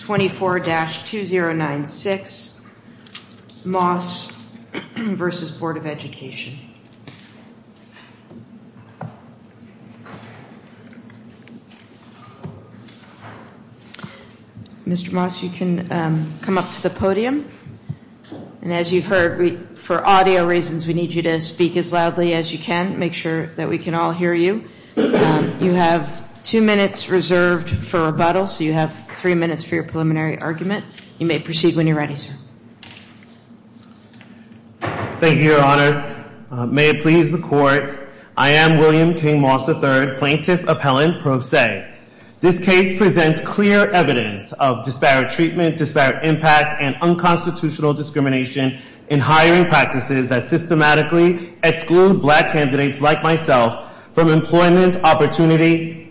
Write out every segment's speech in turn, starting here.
24-2096, Moss v. Board of Education Mr. Moss, you can come up to the podium. And as you've heard, for audio reasons we need you to speak as loudly as you can, make sure that we can all hear you. You have two minutes reserved for rebuttal, so you have three minutes for your preliminary argument. You may proceed when you're ready, sir. Thank you, Your Honors. May it please the Court, I am William King Moss III, Plaintiff Appellant Pro Se. This case presents clear evidence of disparate treatment, disparate impact, and unconstitutional discrimination in hiring practices that systematically exclude Black candidates like myself from employment and employment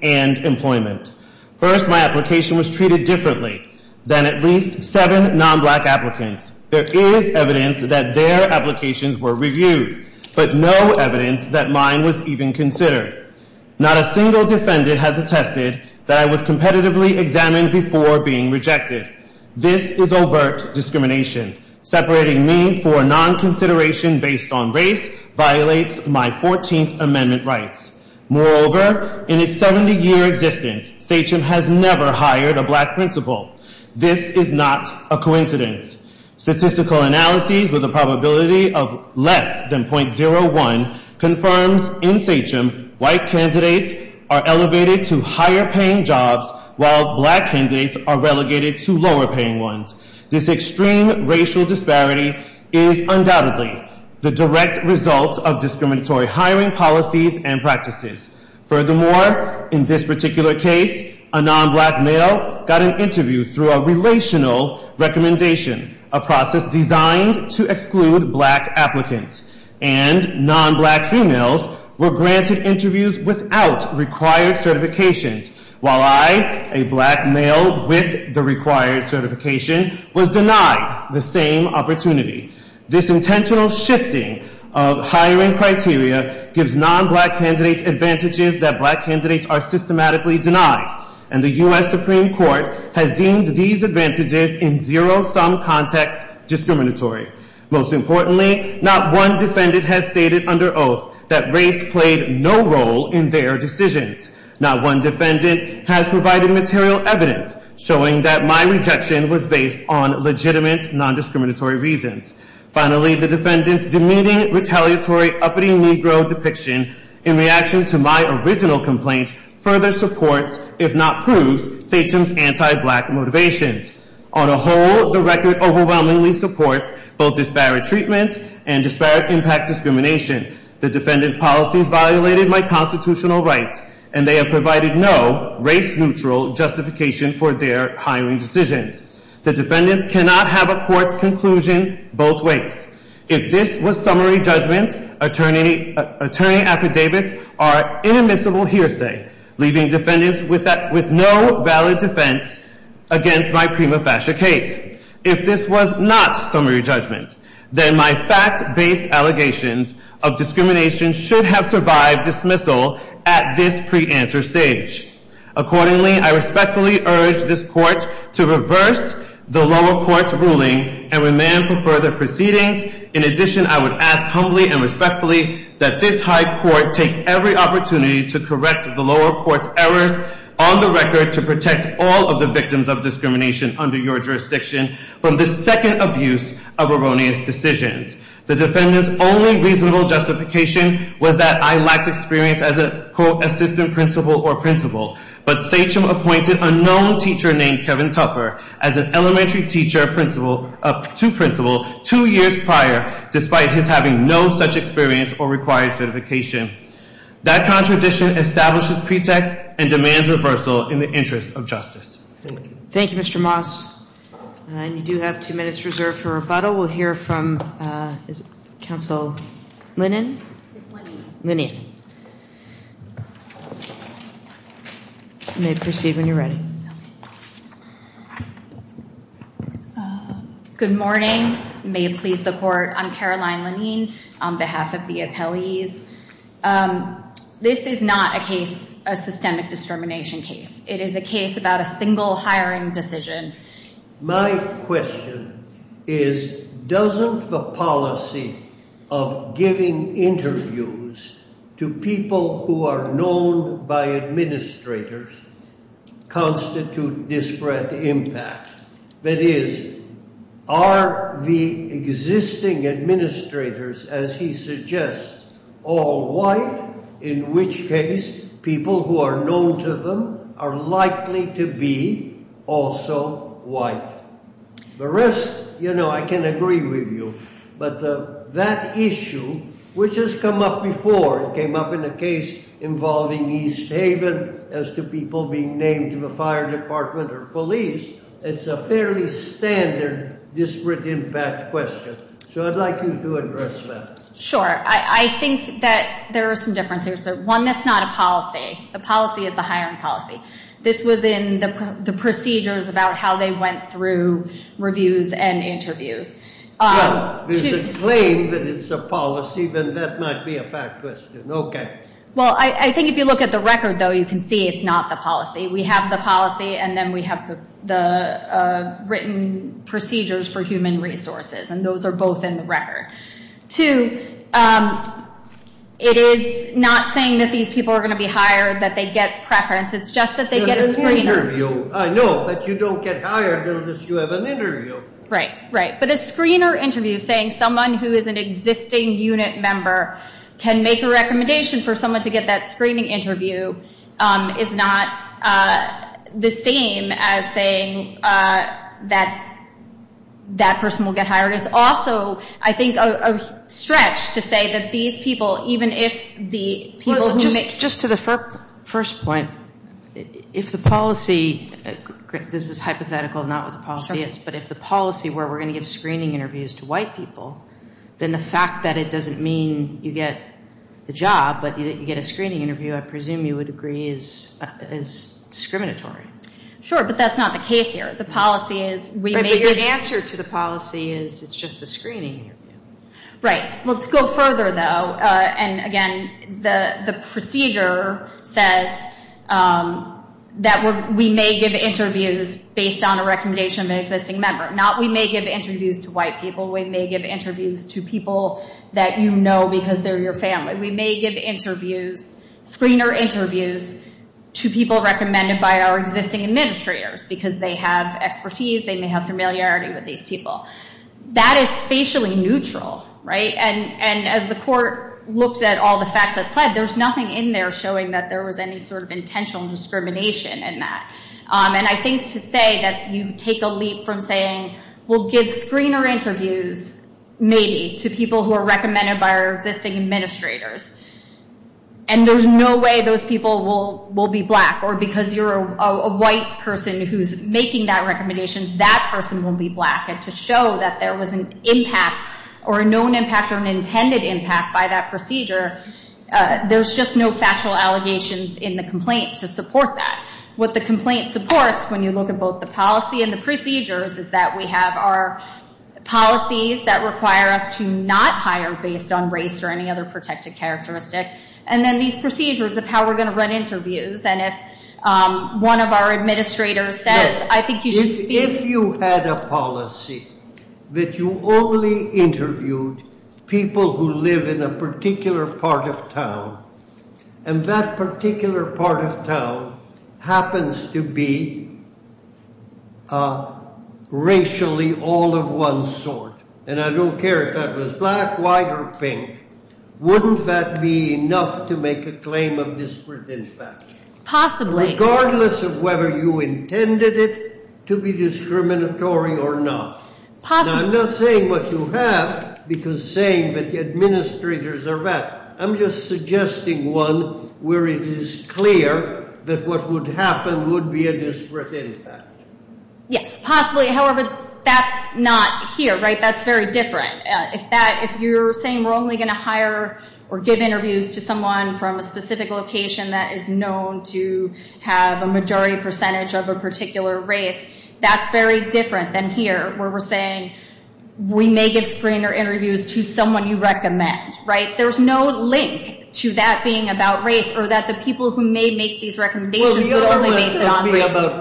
opportunities. First, my application was treated differently than at least seven non-Black applicants. There is evidence that their applications were reviewed, but no evidence that mine was even considered. Not a single defendant has attested that I was competitively examined before being rejected. This is overt discrimination. Separating me for non-consideration based on race violates my 14th Amendment rights. Moreover, in its 70-year existence, SACIM has never hired a Black principal. This is not a coincidence. Statistical analyses with a probability of less than .01 confirms in SACIM White candidates are elevated to higher-paying jobs while Black candidates are relegated to lower-paying ones. This extreme racial disparity is undoubtedly the direct result of discriminatory hiring policies and practices. Furthermore, in this particular case, a non-Black male got an interview through a relational recommendation, a process designed to exclude Black applicants. And non-Black females were granted interviews without required certifications, while I, a Black male with the required certification, was denied the same opportunity. This intentional shifting of hiring criteria gives non-Black candidates advantages that Black candidates are systematically denied. And the U.S. Supreme Court has deemed these advantages in zero-sum context discriminatory. Most importantly, not one defendant has stated under oath that race played no role in their decisions. Not one defendant has provided material evidence showing that my rejection was based on legitimate non-discriminatory reasons. Finally, the defendant's demeaning, retaliatory, uppity Negro depiction in reaction to my original complaint further supports, if not proves, SACIM's anti-Black motivations. On a whole, the record overwhelmingly supports both disparate treatment and disparate impact discrimination. The defendant's policies violated my constitutional rights, and they have provided no race-neutral justification for their hiring decisions. The defendants cannot have a court's conclusion both ways. If this was summary judgment, attorney affidavits are inadmissible hearsay, leaving defendants with no valid defense against my prima facie case. If this was not summary judgment, then my fact-based allegations of discrimination should have survived dismissal at this pre-answer stage. Accordingly, I respectfully urge this Court to reverse the lower court's ruling and remand for further proceedings. In addition, I would ask humbly and respectfully that this High Court take every opportunity to correct the lower court's errors on the record to protect all of the victims of discrimination under your jurisdiction from the second abuse of Eronian's decisions. The defendant's only reasonable justification was that I lacked experience as a co-assistant principal or principal. But Sachem appointed a known teacher named Kevin Tuffer as an elementary teacher to principal two years prior, despite his having no such experience or required certification. That contradiction establishes pretext and demands reversal in the interest of justice. Good morning. May it please the Court, I'm Caroline Lanine on behalf of the appellees. This is not a case, a systemic discrimination case. It is a case about a single hiring decision. My question is, doesn't the policy of giving interviews to people who are known by administration constitute disparate impact? That is, are the existing administrators, as he suggests, all white? In which case, people who are known to them are likely to be also white. The rest, you know, I can agree with you. But that issue, which has come up before, it came up in a case involving East Haven as to people being named to the fire department or police, it's a fairly standard disparate impact question. So I'd like you to address that. Sure. I think that there are some differences. One, that's not a policy. The policy is the hiring policy. This was in the procedures about how they went through reviews and interviews. Well, there's a claim that it's a policy, then that might be a fact question. Okay. Well, I think if you look at the record, though, you can see it's not the policy. We have the policy, and then we have the written procedures for human resources. And those are both in the record. Two, it is not saying that these people are going to be hired, that they get preference. It's just that they get a screener. Right, right. But a screener interview saying someone who is an existing unit member can make a recommendation for someone to get that screening interview is not the same as saying that that person will get hired. It's also, I think, a stretch to say that these people, even if the people who make Just to the first point, if the policy this is hypothetical, not what the policy is, but if the policy where we're going to give screening interviews to white people, then the fact that it doesn't mean you get the job, but you get a screening interview, I presume you would agree, is discriminatory. Sure, but that's not the case here. The policy is we may give Right, but your answer to the policy is it's just a screening interview. Right. Well, to go further, though, and again, the procedure says that we may give interviews based on a recommendation of an existing member. Not we may give interviews to white people. We may give interviews to people that you know because they're your family. We may give screener interviews to people recommended by our existing administrators because they have expertise. They may have familiarity with these people. That is facially neutral, right? And as the court looks at all the facts, there's nothing in there showing that there was any sort of intentional discrimination in that. And I think to say that you take a leap from saying we'll give screener interviews, maybe, to people who are recommended by our existing administrators, and there's no way those people will be black or because you're a white person who's making that recommendation, that person will be black. And to show that there was an impact or a known impact or an intended impact by that procedure, there's just no factual allegations in the complaint to support that. What the complaint supports when you look at both the policy and the procedures is that we have our policies that require us to not hire based on race or any other protected characteristic, and then these procedures of how we're going to run interviews. And if one of our administrators says, I think you should speak... If you had a policy that you only interviewed people who live in a particular part of town, and that particular part of town happens to be racially all of one sort, and I don't care if that was black, white, or pink, wouldn't that be enough to make a claim of disparate impact? Possibly. Regardless of whether you intended it to be discriminatory or not. Possibly. I'm not saying what you have, because saying that the administrators are black. I'm just suggesting one where it is clear that what would happen would be a disparate impact. Yes, possibly. However, that's not here, right? That's very different. If you're saying we're only going to hire or give interviews to someone from a specific location that is known to have a majority percentage of a particular race, that's very different than here where we're saying we may give screener interviews to someone you recommend, right? There's no link to that being about race or that the people who may make these recommendations would only base it on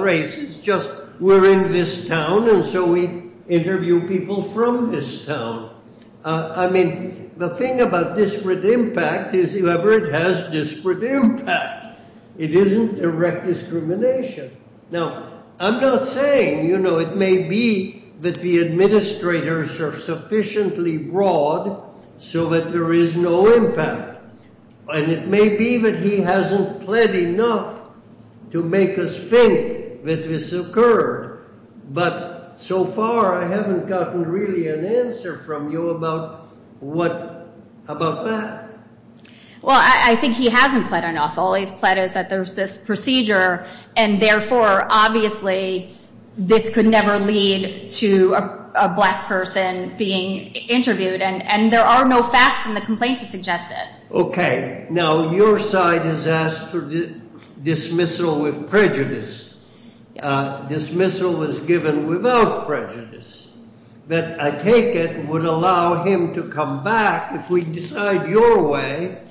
race. It's just we're in this town, and so we interview people from this town. I mean, the thing about disparate impact is whoever it has disparate impact. It isn't direct discrimination. Now, I'm not saying, you know, it may be that the administrators are sufficiently broad so that there is no impact, and it may be that he hasn't pled enough to make us think that this occurred, but so far I haven't gotten really an answer from you about that. Well, I think he hasn't pled enough. All he's pled is that there's this procedure, and therefore, obviously, this could never lead to a black person being interviewed, and there are no facts in the complaint to suggest it. Okay. Now, your side has asked for dismissal with prejudice. Dismissal was given without prejudice. I take it would allow him to come back if we decide your way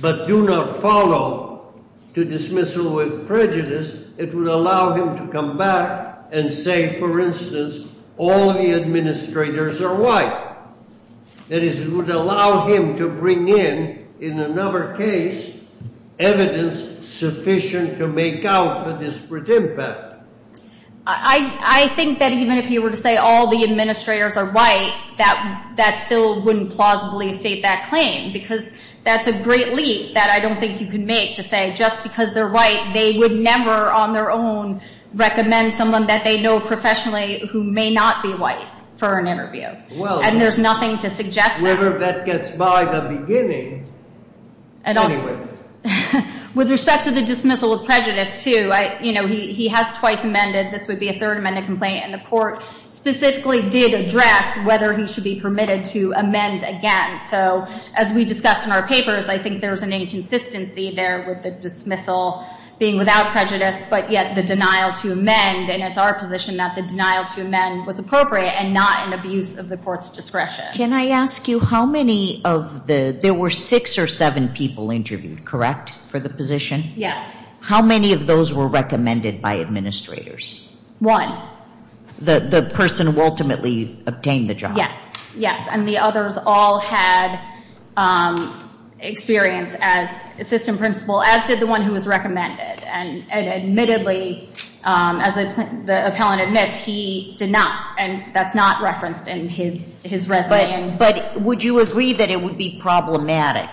but do not follow to dismissal with prejudice, it would allow him to come back and say, for instance, all of the administrators are white. That is, it would allow him to bring in, in another case, evidence sufficient to make out the disparate impact. I think that even if you were to say all the administrators are white, that still wouldn't plausibly state that claim because that's a great leap that I don't think you can make to say just because they're white, they would never on their own recommend someone that they know professionally who may not be white for an interview, and there's nothing to suggest that. Well, whoever that gets by the beginning, anyway. With respect to the dismissal of prejudice, too, you know, he has twice amended. This would be a third amendment complaint, and the court specifically did address whether he should be permitted to amend again. So as we discussed in our papers, I think there's an inconsistency there with the dismissal being without prejudice, but yet the denial to amend, and it's our position that the denial to amend was appropriate and not an abuse of the court's discretion. Can I ask you how many of the, there were six or seven people interviewed, correct, for the position? Yes. How many of those were recommended by administrators? One. The person who ultimately obtained the job? Yes, yes, and the others all had experience as assistant principal, as did the one who was recommended, and admittedly, as the appellant admits, he did not, and that's not referenced in his resume. But would you agree that it would be problematic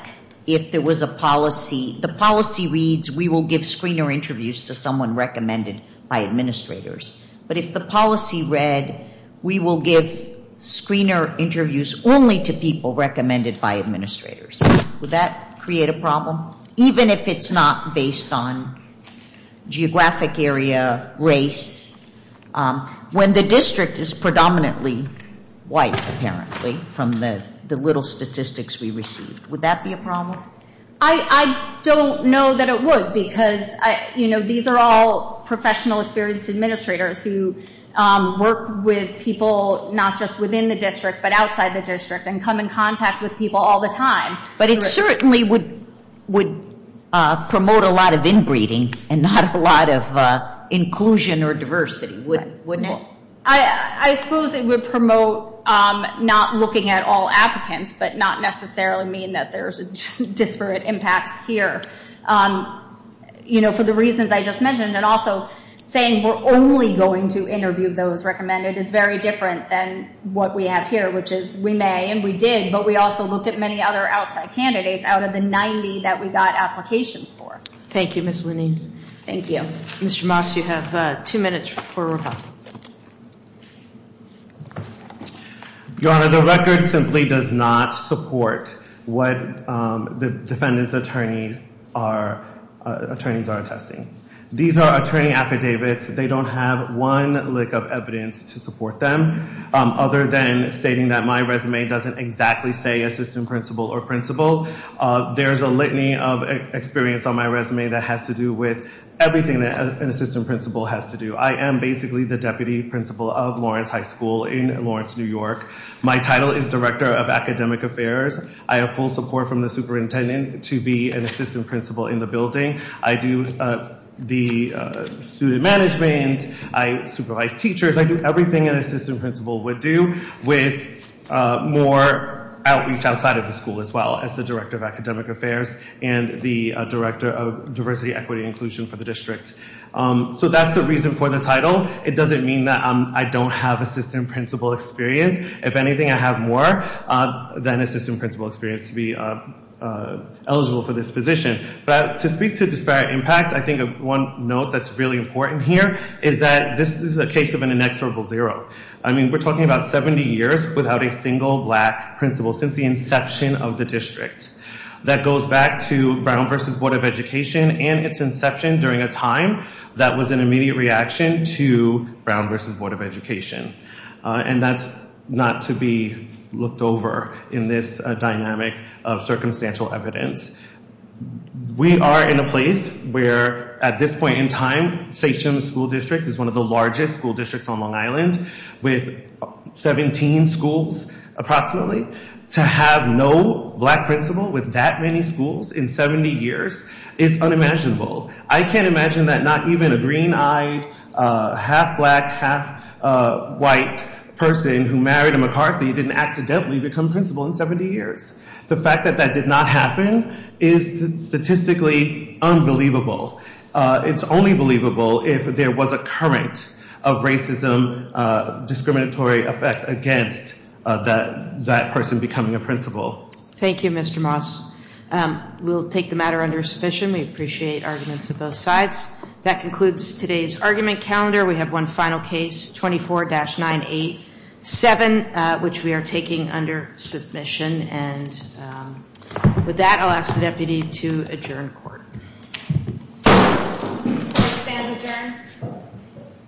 if there was a policy, the policy reads we will give screener interviews to someone recommended by administrators, but if the policy read we will give screener interviews only to people recommended by administrators, would that create a problem, even if it's not based on geographic area, race, when the district is predominantly white, apparently, from the little statistics we received? Would that be a problem? I don't know that it would because, you know, these are all professional experienced administrators who work with people not just within the district, but outside the district and come in contact with people all the time. But it certainly would promote a lot of inbreeding and not a lot of inclusion or diversity, wouldn't it? I suppose it would promote not looking at all applicants, but not necessarily mean that there's disparate impacts here, you know, for the reasons I just mentioned, and also saying we're only going to interview those recommended is very different than what we have here, which is we may, and we did, but we also looked at many other outside candidates out of the 90 that we got applications for. Thank you, Ms. Lenine. Thank you. Mr. Moss, you have two minutes for rebuttal. Your Honor, the record simply does not support what the defendant's attorneys are attesting. These are attorney affidavits. They don't have one lick of evidence to support them other than stating that my resume doesn't exactly say assistant principal or principal. There's a litany of experience on my resume that has to do with everything that an assistant principal has to do. I am basically the deputy principal of Lawrence High School in Lawrence, New York. My title is director of academic affairs. I have full support from the superintendent to be an assistant principal in the building. I do the student management. I supervise teachers. I do everything an assistant principal would do with more outreach outside of the school as well as the director of academic affairs and the director of diversity, equity, and inclusion for the district. So that's the reason for the title. It doesn't mean that I don't have assistant principal experience. If anything, I have more than assistant principal experience to be eligible for this position. But to speak to disparate impact, I think one note that's really important here is that this is a case of an inexorable zero. I mean, we're talking about 70 years without a single black principal since the inception of the district. That goes back to Brown v. Board of Education and its inception during a time that was an immediate reaction to Brown v. Board of Education. And that's not to be looked over in this dynamic of circumstantial evidence. We are in a place where at this point in time, Seichem School District is one of the largest school districts on Long Island with 17 schools approximately. To have no black principal with that many schools in 70 years is unimaginable. I can't imagine that not even a green-eyed, half-black, half-white person who married a McCarthy didn't accidentally become principal in 70 years. The fact that that did not happen is statistically unbelievable. It's only believable if there was a current of racism, discriminatory effect against that person becoming a principal. Thank you, Mr. Moss. We'll take the matter under submission. We appreciate arguments of both sides. That concludes today's argument calendar. We have one final case, 24-987, which we are taking under submission. And with that, I'll ask the deputy to adjourn court. All stand adjourned.